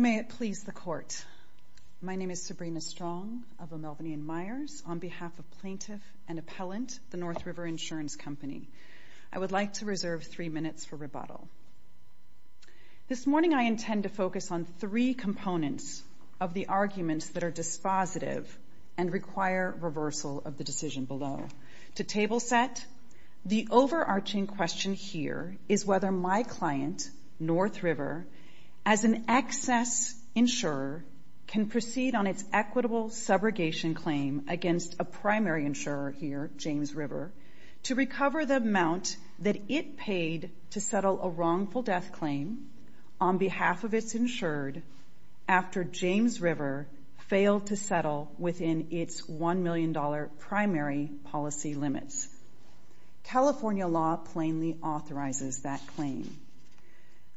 May it please the court, my name is Sabrina Strong of the Melvinian Meyers on behalf of Plaintiff and Appellant, the North River Insurance Company. I would like to reserve three minutes for rebuttal. This morning I intend to focus on three components of the arguments that are dispositive and require reversal of the decision below. To table set, the overarching question here is whether my client, North River, as an excess insurer can proceed on its equitable subrogation claim against a primary insurer here, James River, to recover the amount that it paid to settle a wrongful death claim on behalf of its insured after James River failed to settle within its $1 million primary policy limits. California law plainly authorizes that claim.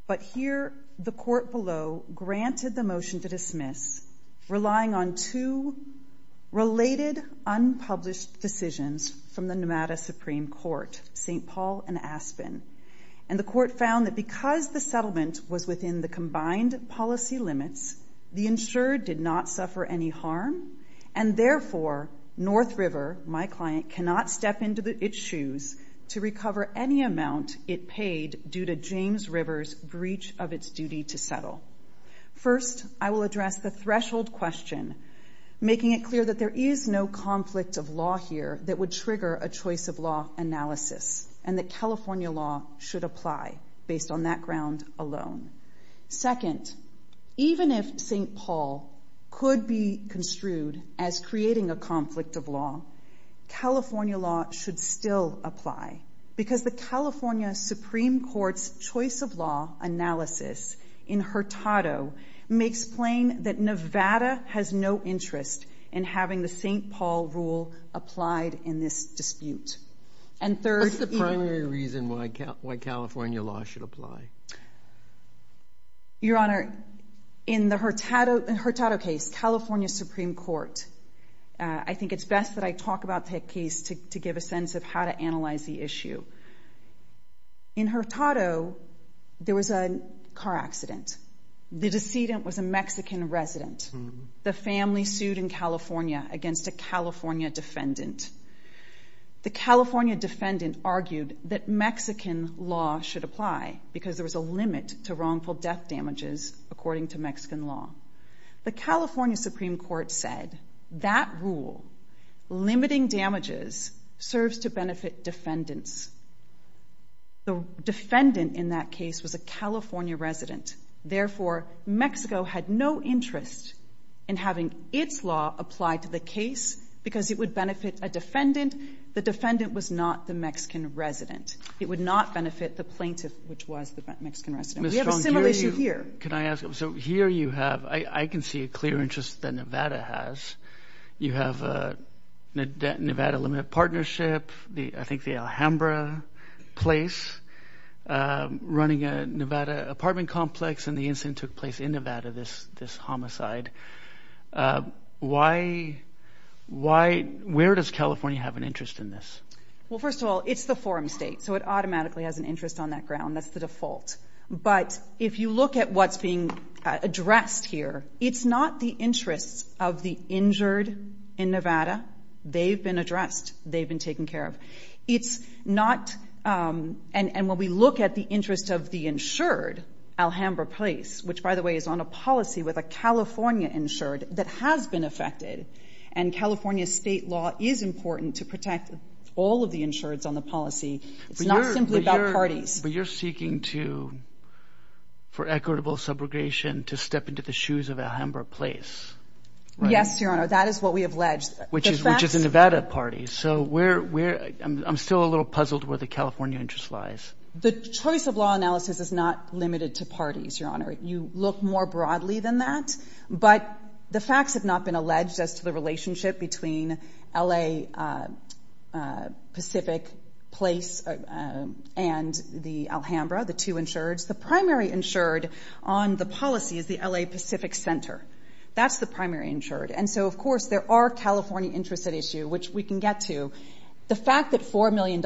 But here the court below granted the motion to dismiss, relying on two related unpublished decisions from the NMATA Supreme Court, St. Paul and Aspen. And the court found that because the settlement was within the combined policy limits, the insured did not suffer any harm, and therefore North River, my client, cannot step into its shoes to recover any amount it paid due to James River's breach of its duty to settle. First, I will address the threshold question, making it clear that there is no conflict of law here that would trigger a choice of law analysis, and that California law should apply based on that ground alone. Second, even if St. Paul could be construed as creating a conflict of law, California law should still apply, because the California Supreme Court's choice of law analysis in Hurtado makes plain that Nevada has no interest in having the St. Paul rule applied in this dispute. And third, in the Hurtado case, California Supreme Court, I think it's best that I talk about the case to give a sense of how to analyze the issue. In Hurtado, there was a car accident. The decedent was a Mexican resident. The family sued in California against a California defendant. The California defendant argued that Mexican law should apply, because there was a limit to wrongful death damages according to Mexican law. The California Supreme Court said that rule, limiting damages, serves to benefit defendants. The defendant in that case was a California resident. Therefore, Mexico had no interest in having its law applied to the case, because it would benefit a defendant. The defendant was not the Mexican resident. It would not benefit the plaintiff, which was the Mexican resident. We have a similar issue here. Can I ask, so here you have, I can see a clear interest that Nevada has. You have Nevada Limited Partnership, I think the Alhambra place, running a Nevada apartment complex, and the incident took place in Nevada, this homicide. Why, where does California have an interest in this? Well, first of all, it's the forum state, so it automatically has an interest on that But if you look at what's being addressed here, it's not the interests of the injured in Nevada. They've been addressed. They've been taken care of. It's not, and when we look at the interest of the insured, Alhambra Place, which, by the way, is on a policy with a California insured that has been affected, and California state law is important to protect all of the insureds on the policy. It's not simply about parties. But you're seeking to, for equitable subrogation, to step into the shoes of Alhambra Place, right? Yes, Your Honor, that is what we have alleged. Which is a Nevada party, so we're, I'm still a little puzzled where the California interest lies. The choice of law analysis is not limited to parties, Your Honor. You look more broadly than that, but the facts have not been alleged as to the relationship between L.A. Pacific Place and the Alhambra, the two insureds. The primary insured on the policy is the L.A. Pacific Center. That's the primary insured. And so, of course, there are California interests at issue, which we can get to. The fact that $4 million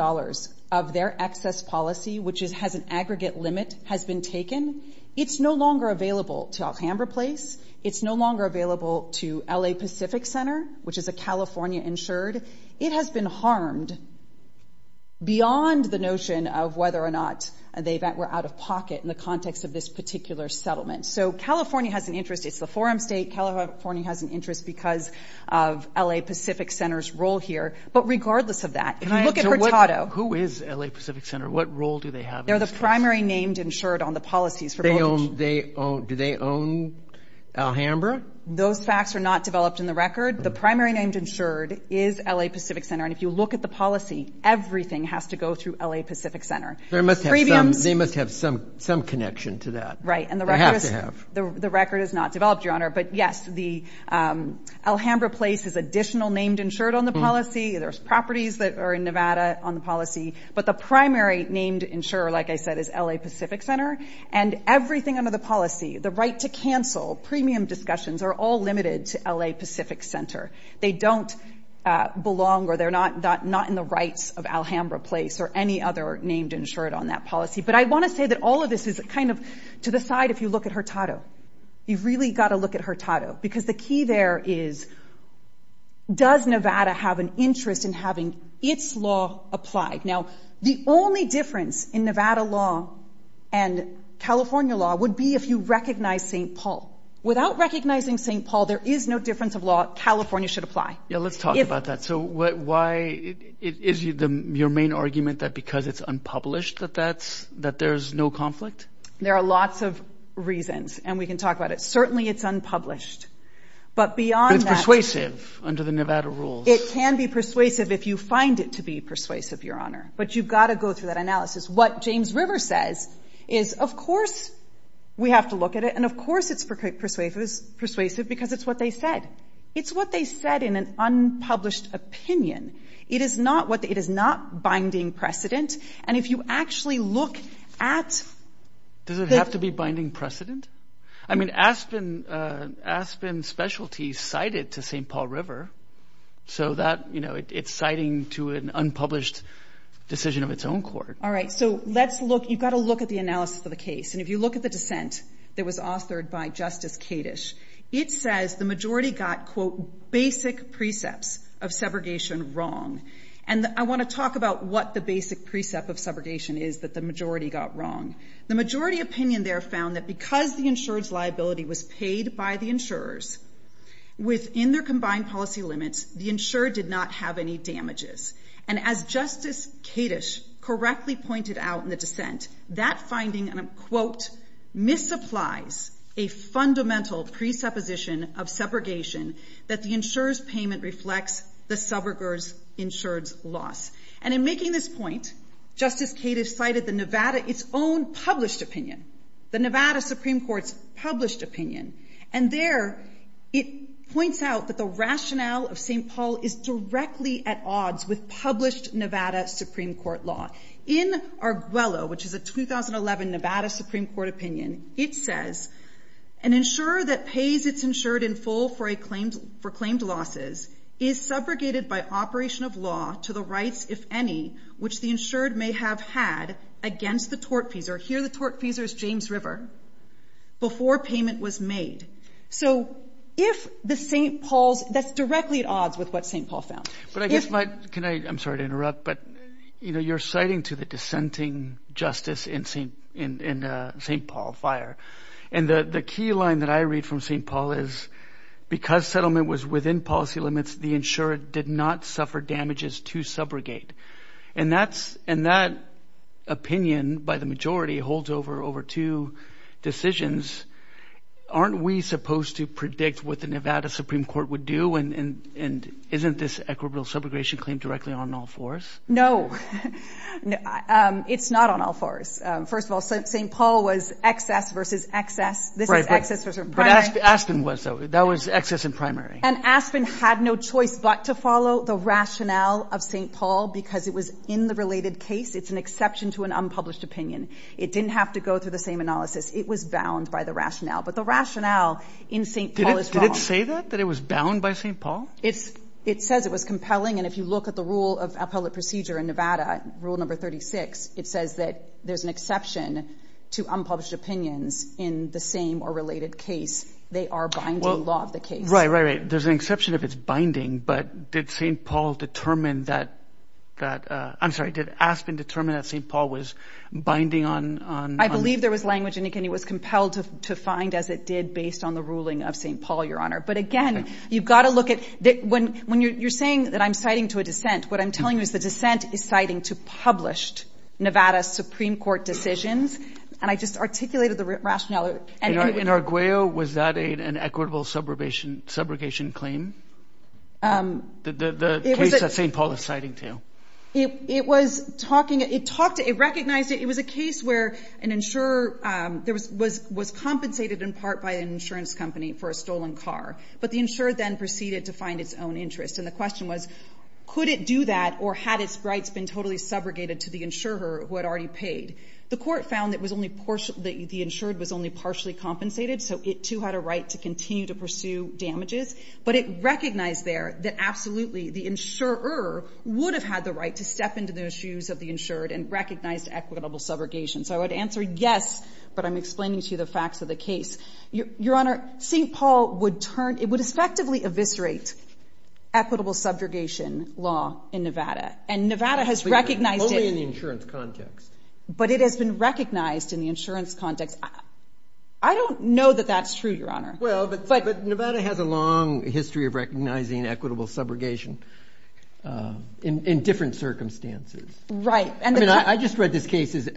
of their excess policy, which has an aggregate limit, has been taken, it's no longer available to Alhambra Place. It's no Beyond the notion of whether or not they were out of pocket in the context of this particular settlement. So California has an interest. It's the forum state. California has an interest because of L.A. Pacific Center's role here. But regardless of that, if you look at Hurtado Who is L.A. Pacific Center? What role do they have in this case? They're the primary named insured on the policies for mortgage. Do they own Alhambra? Those facts are not developed in the record. The primary named insured is L.A. Pacific Center. And if you look at the policy, everything has to go through L.A. Pacific Center. They must have some connection to that. Right. And the record is not developed, Your Honor. But yes, the Alhambra Place is additional named insured on the policy. There's properties that are in Nevada on the policy. But the primary named insurer, like I said, is L.A. Pacific Center. And everything under the policy, the right to cancel, premium discussions, are all limited to L.A. Pacific Center. They don't belong or they're not in the rights of Alhambra Place or any other named insured on that policy. But I want to say that all of this is kind of to the side if you look at Hurtado. You've really got to look at Hurtado because the key there is, does Nevada have an interest in having its law applied? Now, the only difference in Nevada law and California law would be if you recognize St. Paul. Without recognizing St. Paul, there is no difference of law. California should apply. Yeah. Let's talk about that. So why is your main argument that because it's unpublished that there's no conflict? There are lots of reasons. And we can talk about it. Certainly, it's unpublished. But beyond that... But it's persuasive under the Nevada rules. It can be persuasive if you find it to be persuasive, Your Honor. But you've got to go through that analysis. What James River says is, of course, we have to look at it. And, of course, it's persuasive because it's what they said. It's what they said in an unpublished opinion. It is not binding precedent. And if you actually look at... Does it have to be binding precedent? I mean, Aspen Specialty cited to St. Paul River. So that, you know, it's citing to an unpublished decision of its own court. All right. So let's look. You've got to look at the analysis of the case. And if you look at the dissent that was authored by Justice Kadish, it says the majority got, quote, basic precepts of segregation wrong. And I want to talk about what the basic precept of segregation is that the majority got wrong. The majority opinion there found that because the insured's liability was paid by the insurers within their combined policy limits, the insured did not have any damages. And as Justice Kadish correctly pointed out in the dissent, that finding, quote, misapplies a fundamental presupposition of separation that the insurer's payment reflects the subrogator's insured's loss. And in making this point, Justice Kadish cited the Nevada, its own published opinion, the Nevada Supreme Court's published opinion. And there it points out that the rationale of St. Paul is directly at odds with published Nevada Supreme Court law. In Arguello, which is a 2011 Nevada Supreme Court opinion, it says, an insurer that pays its insured in full for claimed losses is subrogated by operation of law to the rights, if any, which the insured may have had against the tortfeasor, here the tortfeasor is James River, before payment was made. So if the St. Paul's, that's directly at odds with what St. Paul found. But I guess my, can I, I'm sorry to interrupt, but you know, you're citing to the dissenting justice in St. Paul Fire. And the key line that I read from St. Paul is, because settlement was within policy limits, the insured did not suffer damages to subrogate. And that's, in that opinion, by the majority holds over, over two decisions. Aren't we supposed to predict what the Nevada Supreme Court would do? And isn't this equitable subrogation claim directly on all fours? No, it's not on all fours. First of all, St. Paul was excess versus excess. This is excess versus primary. But Aspen was though, that was excess and primary. And Aspen had no choice but to follow the rationale of St. Paul because it was in the same or related case. It's an exception to an unpublished opinion. It didn't have to go through the same analysis. It was bound by the rationale. But the rationale in St. Paul is wrong. Did it say that, that it was bound by St. Paul? It's, it says it was compelling. And if you look at the rule of appellate procedure in Nevada, rule number 36, it says that there's an exception to unpublished opinions in the same or related case. They are binding law of the case. Right, right, right. There's an exception if it's binding, but did St. Paul determine that, that, uh, I'm sorry, did Aspen determine that St. Paul was binding on, on. I believe there was language in it and it was compelled to, to find as it did based on the ruling of St. Paul, Your Honor. But again, you've got to look at that when, when you're saying that I'm citing to a dissent, what I'm telling you is the dissent is citing to published Nevada Supreme Court decisions. And I just articulated the rationale. In Arguello, was that an equitable subrogation claim? The case that St. Paul is citing to? It was talking, it talked, it recognized it. It was a case where an insurer was compensated in part by an insurance company for a stolen car. But the insured then proceeded to find its own interest. And the question was, could it do that or had its rights been totally subrogated to the insurer who had already paid? The court found that it was only, that the insured was only partially compensated. So it too had a right to continue to pursue damages. But it recognized there that absolutely the insurer would have had the right to step into the shoes of the insured and recognized equitable subrogation. So I would answer yes, but I'm explaining to you the facts of the case. Your, Your Honor, St. Paul would turn, it would effectively eviscerate equitable subrogation law in Nevada. And Nevada has recognized it. Only in the insurance context. But it has been recognized in the insurance context. I don't know that that's true, Your Honor. Well, but Nevada has a long history of recognizing equitable subrogation in different circumstances. Right. I mean, I just read this case as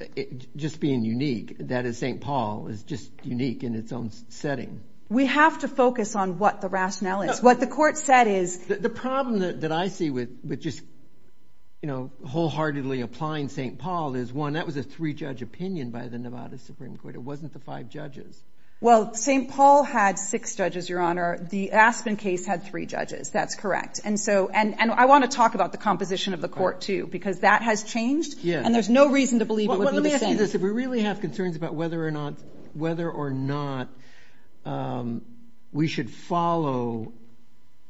just being unique. That is, St. Paul is just unique in its own setting. We have to focus on what the rationale is. What the court said is. The problem that I see with, with just, you know, wholeheartedly applying St. Paul is one, that was a three-judge opinion by the Nevada Supreme Court. It wasn't the five judges. Well, St. Paul had six judges, Your Honor. The Aspen case had three judges. That's correct. And so, and, and I want to talk about the composition of the court too, because that has changed. Yeah. And there's no reason to believe it would be the same. Let me ask you this. If we really have concerns about whether or not, whether or not, um, we should follow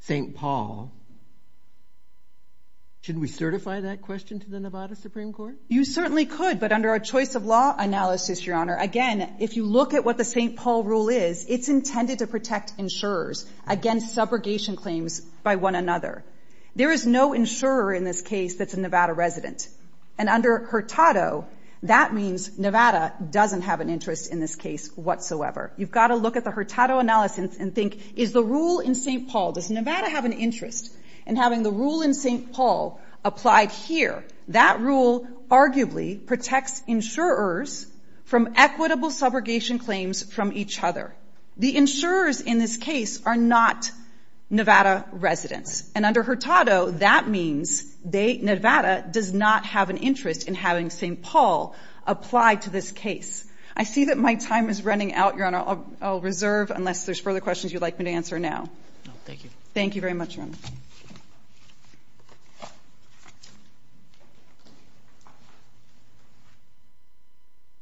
St. Paul, should we certify that question to the Nevada Supreme Court? You certainly could. But under our choice of law analysis, Your Honor, again, if you look at what the St. Paul rule is, it's intended to protect insurers against subrogation claims by one another. There is no insurer in this case that's a Nevada resident. And under Hurtado, that means Nevada doesn't have an interest in this case whatsoever. You've got to look at the Hurtado analysis and think, is the rule in St. Paul, does Nevada have an interest in having the rule in St. Paul applied here? That rule arguably protects insurers from equitable subrogation claims from each other. The insurers in this case are not Nevada residents. And under Hurtado, that means they, Nevada, does not have an interest in having St. Paul applied to this case. I see that my time is running out, Your Honor. I'll reserve unless there's further questions you'd like me to answer now. Thank you. Thank you very much, Your Honor.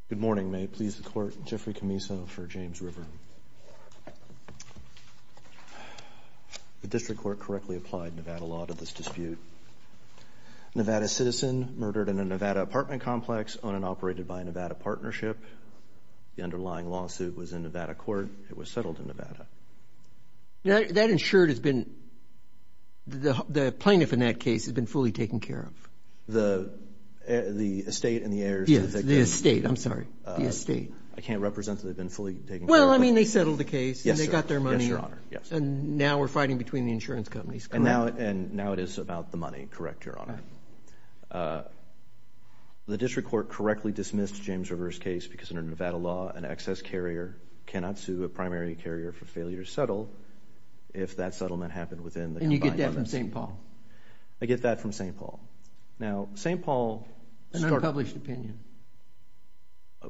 Good morning. May it please the Court? Jeffrey Camiso for James River. The district court correctly applied Nevada law to this dispute. Nevada citizen murdered in a Nevada apartment complex, owned and operated by a Nevada partnership. The underlying lawsuit was in Nevada court. It was settled in Nevada. That insured has been, the plaintiff in that case has been fully taken care of. The estate and the heirs. Yes, the estate. I'm sorry. The estate. I can't represent that they've been fully taken care of. Well, I mean, they settled the case and they got their money. And now we're fighting between the insurance companies, correct? And now it is about the money, correct, Your Honor. The district court correctly dismissed James River's case because under Nevada law, an excess carrier cannot sue a primary carrier for failure to settle if that settlement happened within the combined limits. And you get that from St. Paul? I get that from St. Paul. Now, St. Paul started. An unpublished opinion.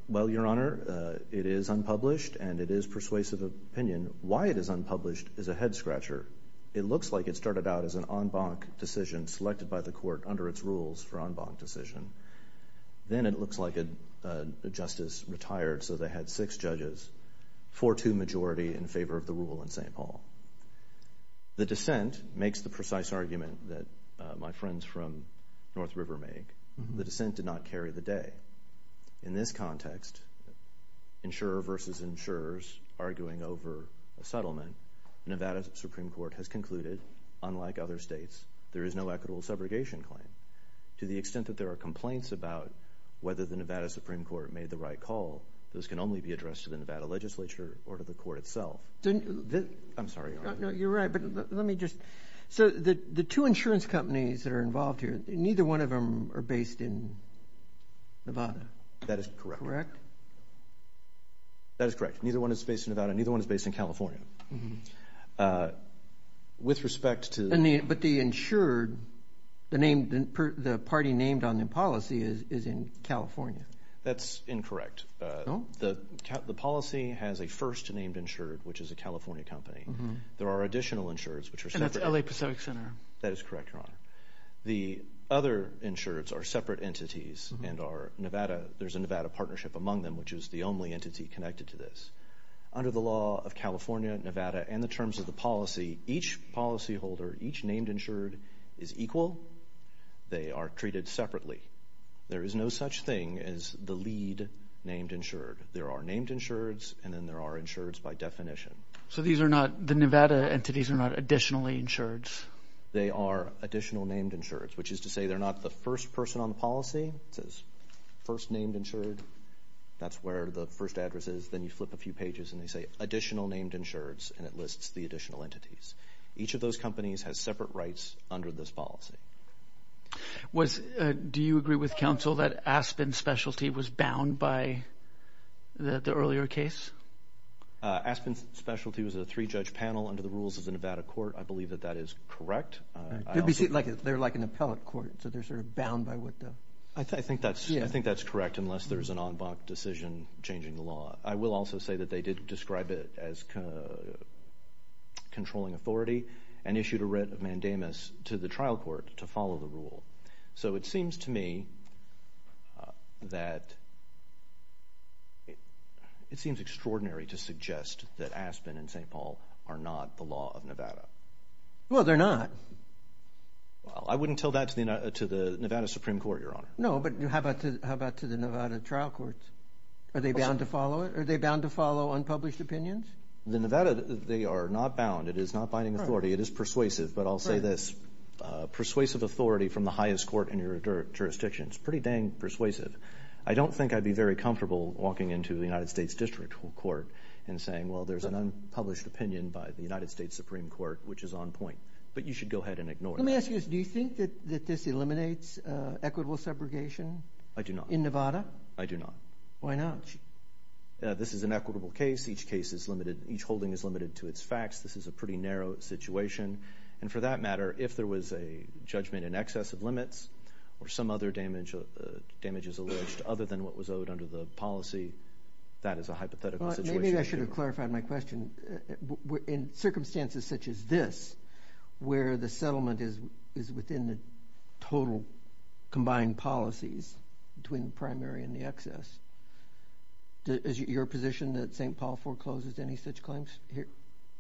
Well, Your Honor, it is unpublished and it is persuasive opinion. Why it is unpublished is a head scratcher. It looks like it started out as an en banc decision selected by the court under its rules for en banc decision. Then it looks like a justice retired so they had six judges, 4-2 majority in favor of the rule in St. Paul. The dissent makes the precise argument that my friends from North River make. The dissent did not carry the day. In this context, insurer versus insurers arguing over a settlement, Nevada Supreme Court has concluded, unlike other states, there is no equitable subrogation claim. To the extent that there are complaints about whether the Nevada Supreme Court made the right call, those can only be addressed to the Nevada legislature or to the court itself. I'm sorry, Your Honor. No, you're right. But let me just. So the two insurance companies that are involved here, neither one of them are based in Nevada, correct? That is correct. That is correct. Neither one is based in Nevada, neither one is based in California. With respect to. But the insured, the party named on the policy is in California. That's incorrect. The policy has a first named insured, which is a California company. There are additional insureds, which are separate. And that's LA Pacific Center. That is correct, Your Honor. The other insureds are separate entities and are Nevada. There's a Nevada partnership among them, which is the only entity connected to this. Under the law of California, Nevada, and the terms of the policy, each policyholder, each named insured is equal. They are treated separately. There is no such thing as the lead named insured. There are named insureds and then there are insureds by definition. So these are not, the Nevada entities are not additionally insureds? They are additional named insureds, which is to say they're not the first person on the policy. It says first named insured. That's where the first address is. Then you flip a few pages and they say additional named insureds and it lists the additional entities. Each of those companies has separate rights under this policy. Do you agree with counsel that Aspen Specialty was bound by the earlier case? Aspen Specialty was a three-judge panel under the rules of the Nevada court. I believe that that is correct. They're like an appellate court, so they're sort of bound by what the... I think that's correct, unless there's an en banc decision changing the law. I will also say that they did describe it as controlling authority and issued a writ of mandamus to the trial court to follow the rule. So it seems to me that, it seems extraordinary to suggest that Aspen and St. Paul are not the law of Nevada. Well, they're not. I wouldn't tell that to the Nevada Supreme Court, Your Honor. No, but how about to the Nevada trial courts? Are they bound to follow it? Are they bound to follow unpublished opinions? The Nevada, they are not bound. It is not binding authority. It is persuasive, but I'll say this. Persuasive authority from the highest court in your jurisdiction is pretty dang persuasive. I don't think I'd be very comfortable walking into the United States District Court and saying, well, there's an unpublished opinion by the United States Supreme Court, which is on point, but you should go ahead and ignore that. Let me ask you this. Do you think that this eliminates equitable segregation? I do not. In Nevada? I do not. Why not? This is an equitable case. Each holding is limited to its facts. This is a pretty narrow situation, and for that matter, if there was a judgment in excess of limits or some other damages alleged other than what was owed under the policy, that is a hypothetical situation. Maybe I should have clarified my question. In circumstances such as this, where the settlement is within the total combined policies between the primary and the excess, is your position that St. Paul forecloses any such claims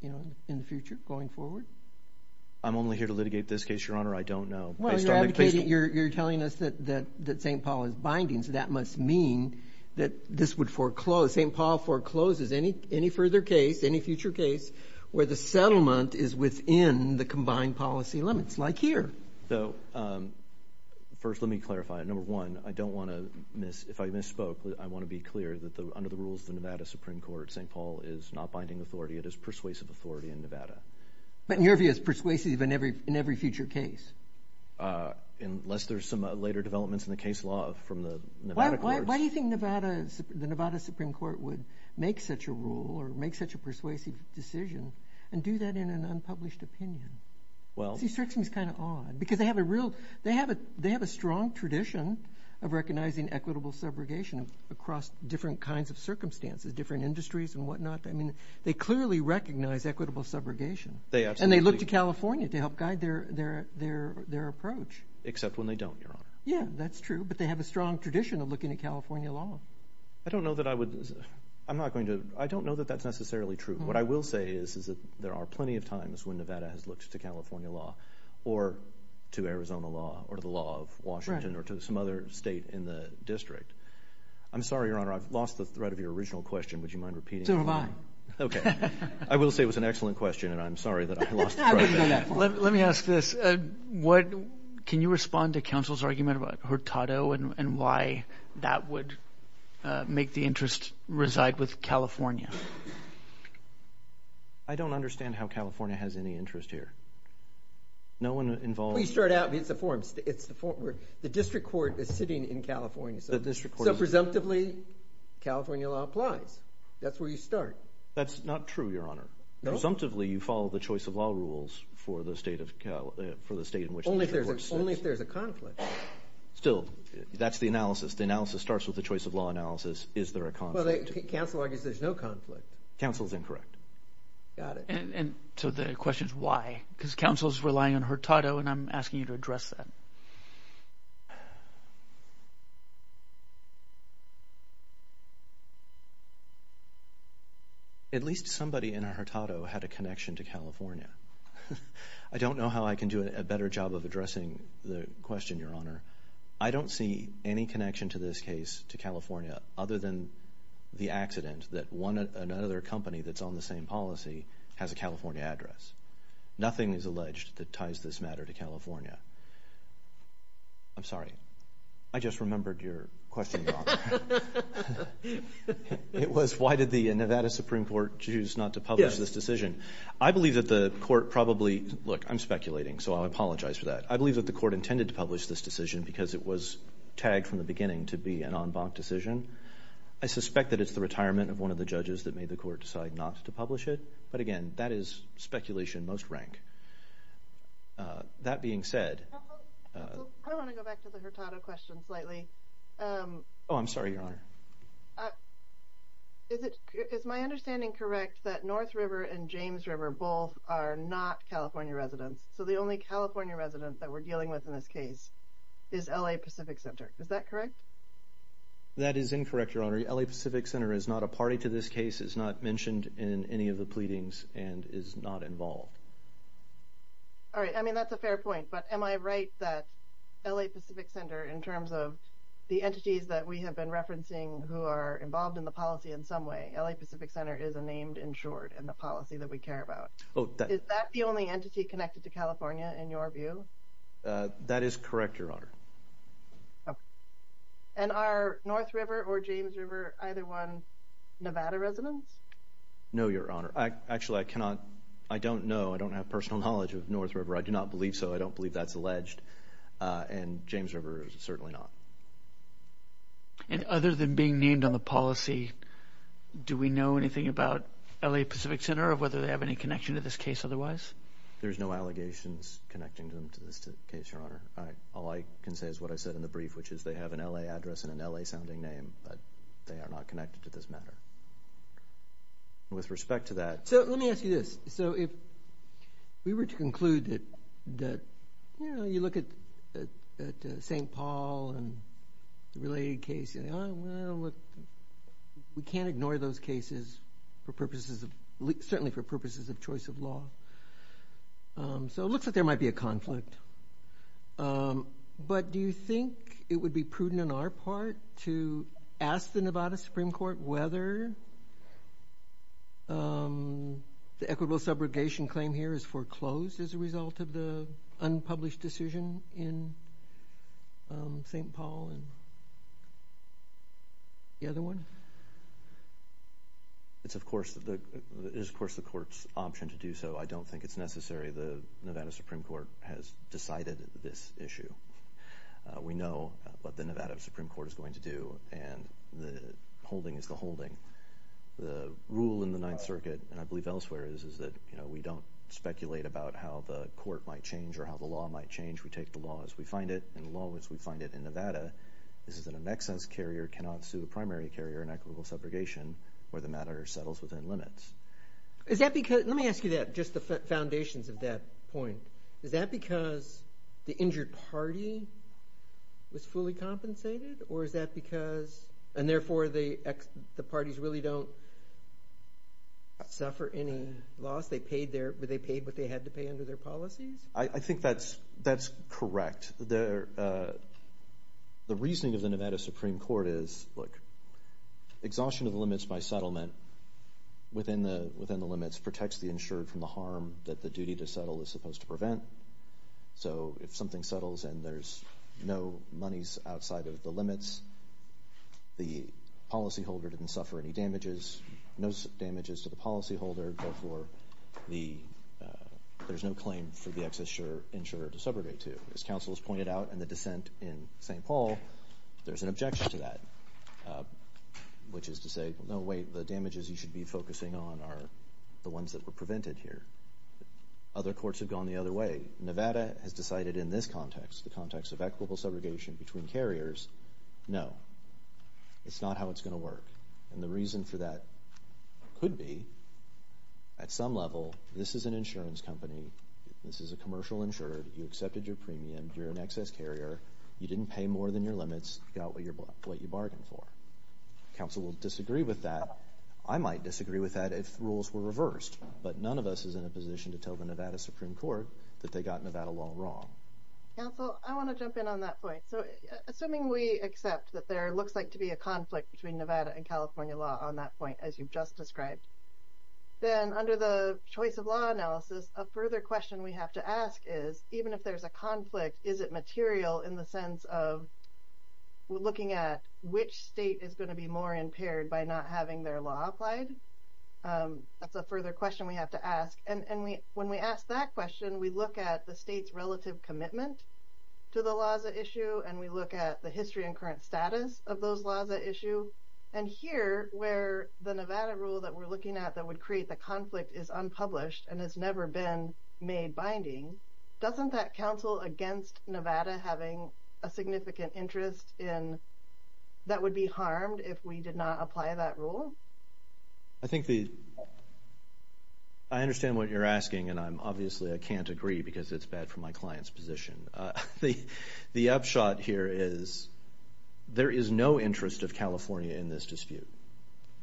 in the future going forward? I'm only here to litigate this case, Your Honor. I don't know. Well, you're telling us that St. Paul is binding, so that must mean that this would foreclose. St. Paul forecloses any further case, any future case, where the settlement is within the combined policy limits, like here. First, let me clarify. Number one, I don't want to miss, if I misspoke, I want to be clear that under the rules of the Nevada Supreme Court, St. Paul is not binding authority. It is persuasive authority in Nevada. But in your view, it's persuasive in every future case? Unless there's some later developments in the case law from the Nevada courts. Why do you think the Nevada Supreme Court would make such a rule or make such a persuasive decision and do that in an unpublished opinion? See, Strixen's kind of odd, because they have a strong tradition of recognizing equitable subrogation across different kinds of circumstances, different industries and whatnot. I mean, they clearly recognize equitable subrogation. They absolutely do. And they look to California to help guide their approach. Except when they don't, Your Honor. Yeah, that's true. But they have a strong tradition of looking at California law. I don't know that I would, I'm not going to, I don't know that that's necessarily true. What I will say is that there are plenty of times when Nevada has looked to California law or to Arizona law or to the law of Washington or to some other state in the district. I'm sorry, Your Honor. I've lost the thread of your original question. Would you mind repeating it? So have I. Okay. I will say it was an excellent question, and I'm sorry that I lost the thread. Let me ask this. Can you respond to counsel's argument about Hurtado and why that would make the interest reside with California? I don't understand how California has any interest here. No one involved. Please start out. It's a forum. The district court is sitting in California. So presumptively, California law applies. That's where you start. That's not true, Your Honor. No? Presumptively, you follow the choice of law rules for the state of, for the state in which the district court sits. Only if there's a conflict. Still, that's the analysis. The analysis starts with the choice of law analysis. Is there a conflict? Well, counsel argues there's no conflict. Counsel's incorrect. Got it. And so the question is why? Because counsel's relying on Hurtado, and I'm asking you to address that. At least somebody in Hurtado had a connection to California. I don't know how I can do a better job of addressing the question, Your Honor. I don't see any connection to this case, to California, other than the accident that another company that's on the same policy has a California address. Nothing is alleged that ties this matter to California. I'm sorry. I just remembered your question, Your Honor. It was why did the Nevada Supreme Court choose not to publish this decision? I believe that the court probably, look, I'm speculating, so I apologize for that. I believe that the court intended to publish this decision because it was tagged from the beginning to be an en banc decision. I suspect that it's the retirement of one of the judges that made the court decide not to publish it. But again, that is speculation, most rank. That being said... I want to go back to the Hurtado question slightly. Oh, I'm sorry, Your Honor. Is my understanding correct that North River and James River both are not California residents? So the only California resident that we're dealing with in this case is L.A. Pacific Center. Is that correct? That is incorrect, Your Honor. L.A. Pacific Center is not a party to this case, is not mentioned in any of the pleadings, and is not involved. All right. I mean, that's a fair point. But am I right that L.A. Pacific Center, in terms of the entities that we have been referencing who are involved in the policy in some way, L.A. Pacific Center is a named in short in the policy that we care about. Is that the only entity connected to California, in your view? That is correct, Your Honor. And are North River or James River either one Nevada residents? No, Your Honor. Actually, I cannot... I don't know. I don't have personal knowledge of North River. I do not believe so. I don't believe that's alleged. And James River is certainly not. And other than being named on the policy, do we know anything about L.A. Pacific Center or whether they have any connection to this case otherwise? There's no allegations connecting them to this case, Your Honor. All I can say is what I said in the brief, which is they have an L.A. address and an L.A. sounding name, but they are not connected to this matter. With respect to that... So, let me ask you this. So, if we were to conclude that, you know, you look at St. Paul and the related case, and you say, well, we can't ignore those cases for purposes of, certainly for purposes of choice of law. So, it looks like there might be a conflict. But do you think it would be prudent on our part to ask the Nevada Supreme Court whether the equitable subrogation claim here is foreclosed as a result of the unpublished decision in St. Paul and the other one? It's of course the court's option to do so. I don't think it's necessary. The Nevada Supreme Court has decided this issue. We know what the Nevada Supreme Court is going to do, and the holding is the holding. The rule in the Ninth Circuit, and I believe elsewhere is, is that, you know, we don't speculate about how the court might change or how the law might change. We take the law as we find it, and the law as we find it in Nevada, is that an excess carrier cannot sue a primary carrier in equitable subrogation where the matter settles within limits. Is that because, let me ask you that, just the foundations of that point. Is that because the injured party was fully compensated, or is that because, and therefore the parties really don't suffer any loss? They paid what they had to pay under their policies? I think that's correct. The reasoning of the Nevada Supreme Court is, look, exhaustion of the limits by settlement within the limits protects the insured from the harm that the duty to settle is supposed to prevent. So, if something settles and there's no monies outside of the limits, the policyholder didn't suffer any damages, no damages to the policyholder, therefore there's no claim for the excess insurer to subrogate to. As counsel has pointed out in the dissent in St. Paul, there's an objection to that, which is to say, no, wait, the damages you should be focusing on are the ones that were prevented here. Other courts have gone the other way. Nevada has decided in this context, the context of equitable subrogation between carriers, no, it's not how it's going to work, and the reason for that could be at some level this is an insurance company, this is a commercial insurer, you accepted your premium, you're an excess carrier, you didn't pay more than your limits, you got what you bargained for. Counsel will disagree with that, I might disagree with that if rules were reversed, but none of us is in a position to tell the Nevada Supreme Court that they got Nevada law wrong. Counsel, I want to jump in on that point. So, assuming we accept that there looks like to be a conflict between Nevada and California law on that point, as you've just described, then under the choice of law analysis, a further question we have to ask is, even if there's a conflict, is it material in the sense of looking at which state is going to be more impaired by not having their law applied? That's a further question we have to ask, and when we ask that question, we look at the state's relative commitment to the laws at issue, and we look at the history and current status of those laws at issue, and here, where the Nevada rule that we're looking at that would create the conflict is unpublished and has never been made binding, doesn't that counsel against Nevada having a significant interest in, that would be harmed if we did not apply that rule? I think the, I understand what you're asking, and I'm obviously, I can't agree because it's bad for my client's position. The upshot here is, there is no interest of California in this dispute,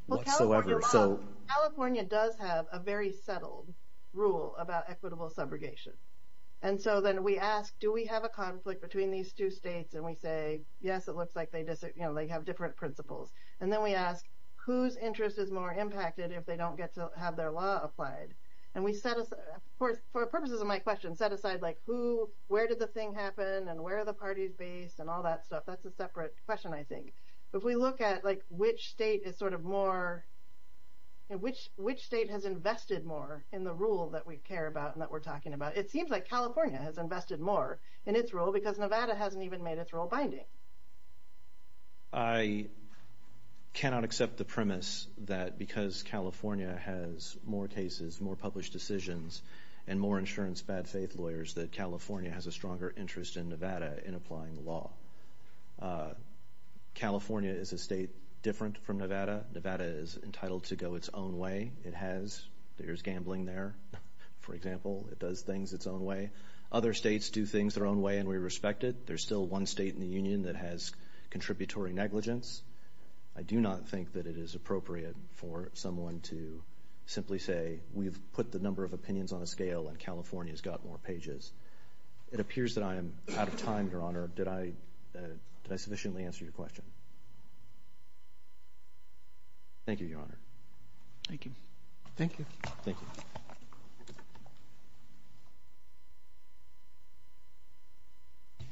whatsoever, so. Well, California does have a very settled rule about equitable subrogation, and so then we ask, do we have a conflict between these two states, and we say, yes, it looks like they have different principles, and then we ask, whose interest is more impacted if they don't get to have their law applied, and we set aside, for purposes of my question, set aside, like, who, where did the thing happen, and where are the parties based, and all that stuff. That's a separate question, I think. If we look at, like, which state is sort of more, and which state has invested more in the rule that we care about and that we're talking about, it seems like California has invested more in its rule because Nevada hasn't even made its rule binding. I cannot accept the premise that because California has more cases, more published decisions, and more insurance bad faith lawyers, that California has a stronger interest in Nevada in applying the law. California is a state different from Nevada. Nevada is entitled to go its own way. It has, there's gambling there, for example, it does things its own way. Other states do things their own way, and we respect it. There's still one state in the union that has contributory negligence. I do not think that it is appropriate for someone to simply say, we've put the number of opinions on a scale, and California's got more pages. It appears that I am out of time, Your Honor. Did I sufficiently answer your question? Thank you, Your Honor. Thank you. Thank you. Thank you. I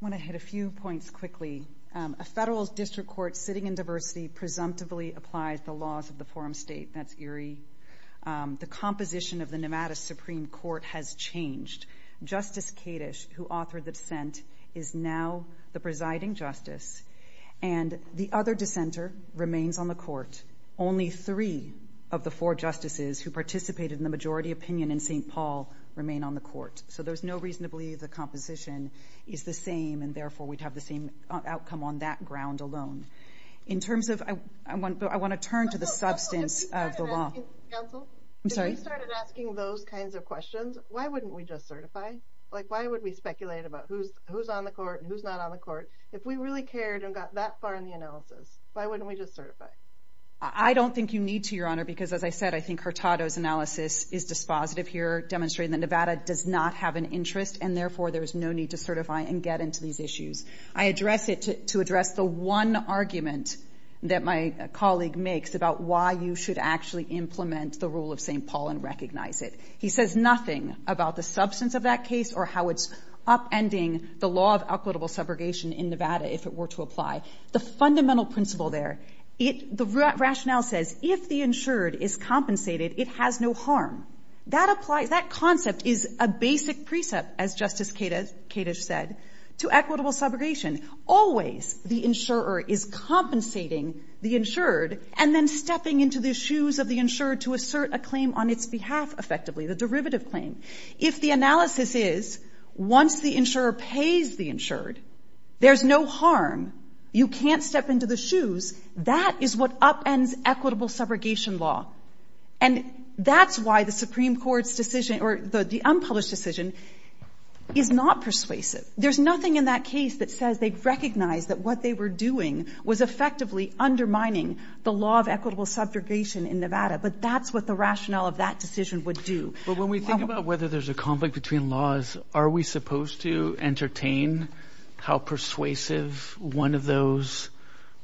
want to hit a few points quickly. A federal district court sitting in diversity presumptively applies the laws of the forum state. I think that's eerie. The composition of the Nevada Supreme Court has changed. Justice Kadish, who authored the dissent, is now the presiding justice, and the other dissenter remains on the court. Only three of the four justices who participated in the majority opinion in St. Paul remain on the court, so there's no reason to believe the composition is the same, and therefore we'd have the same outcome on that ground alone. In terms of, I want to turn to the substance of the law. I'm sorry? If we started asking those kinds of questions, why wouldn't we just certify? Why would we speculate about who's on the court and who's not on the court? If we really cared and got that far in the analysis, why wouldn't we just certify? I don't think you need to, Your Honor, because as I said, I think Hurtado's analysis is dispositive here demonstrating that Nevada does not have an interest, and therefore there's no need to certify and get into these issues. I address it to address the one argument that my colleague makes about why you should actually implement the rule of St. Paul and recognize it. He says nothing about the substance of that case or how it's upending the law of equitable subrogation in Nevada if it were to apply. The fundamental principle there, the rationale says if the insured is compensated, it has no harm. That applies, that concept is a basic precept, as Justice Kadish said, to equitable subrogation. Always the insurer is compensating the insured and then stepping into the shoes of the insured to assert a claim on its behalf effectively, the derivative claim. If the analysis is once the insurer pays the insured, there's no harm, you can't step into the shoes, that is what upends equitable subrogation law. And that's why the Supreme Court's decision, or the unpublished decision, is not persuasive. There's nothing in that case that says they recognize that what they were doing was effectively undermining the law of equitable subrogation in Nevada. But that's what the rationale of that decision would do. But when we think about whether there's a conflict between laws, are we supposed to entertain how persuasive one of those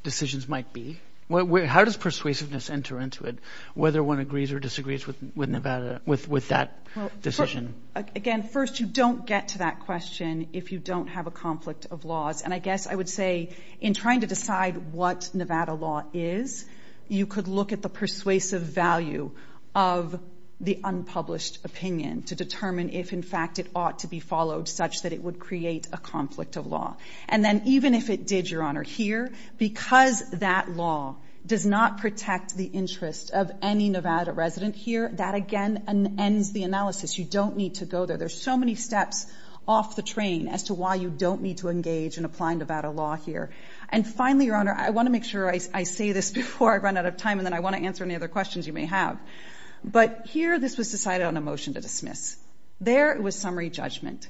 decisions might be? How does persuasiveness enter into it, whether one agrees or disagrees with Nevada, with that decision? Again, first, you don't get to that question if you don't have a conflict of laws. And I guess I would say, in trying to decide what Nevada law is, you could look at the persuasive value of the unpublished opinion to determine if, in fact, it ought to be followed such that it would create a conflict of law. And then, even if it did, Your Honor, here, because that law does not protect the interest of any Nevada resident here, that again ends the analysis. You don't need to go there. There's so many steps off the train as to why you don't need to engage and apply Nevada law here. And finally, Your Honor, I want to make sure I say this before I run out of time, and then I want to answer any other questions you may have. But here, this was decided on a motion to dismiss. There it was summary judgment.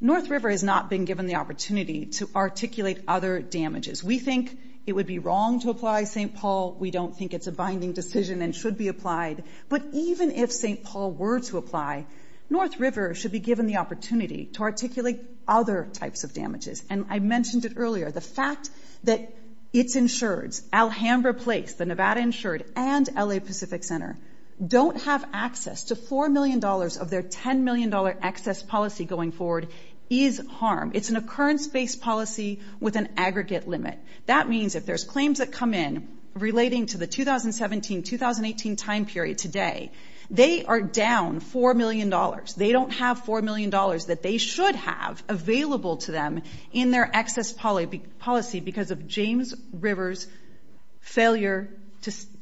North River has not been given the opportunity to articulate other damages. We think it would be wrong to apply St. Paul. We don't think it's a binding decision and should be applied. But even if St. Paul were to apply, North River should be given the opportunity to articulate other types of damages. And I mentioned it earlier, the fact that its insureds, Alhambra Place, the Nevada Insured, and L.A. Pacific Center, don't have access to $4 million of their $10 million excess policy going forward is harm. It's an occurrence-based policy with an aggregate limit. That means if there's claims that come in relating to the 2017-2018 time period today, they are down $4 million. They don't have $4 million that they should have available to them in their excess policy because of James River's failure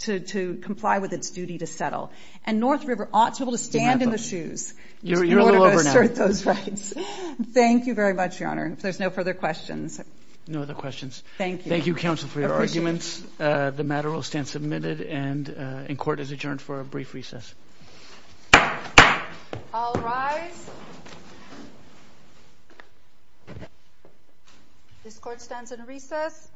to comply with its duty to settle. And North River ought to be able to stand in the shoes. You're a little over now. In order to assert those rights. Thank you very much, Your Honor. If there's no further questions. No other questions. Thank you. Thank you, counsel, for your arguments. The matter will stand submitted and in court is adjourned for a brief recess. All rise. This court stands in recess.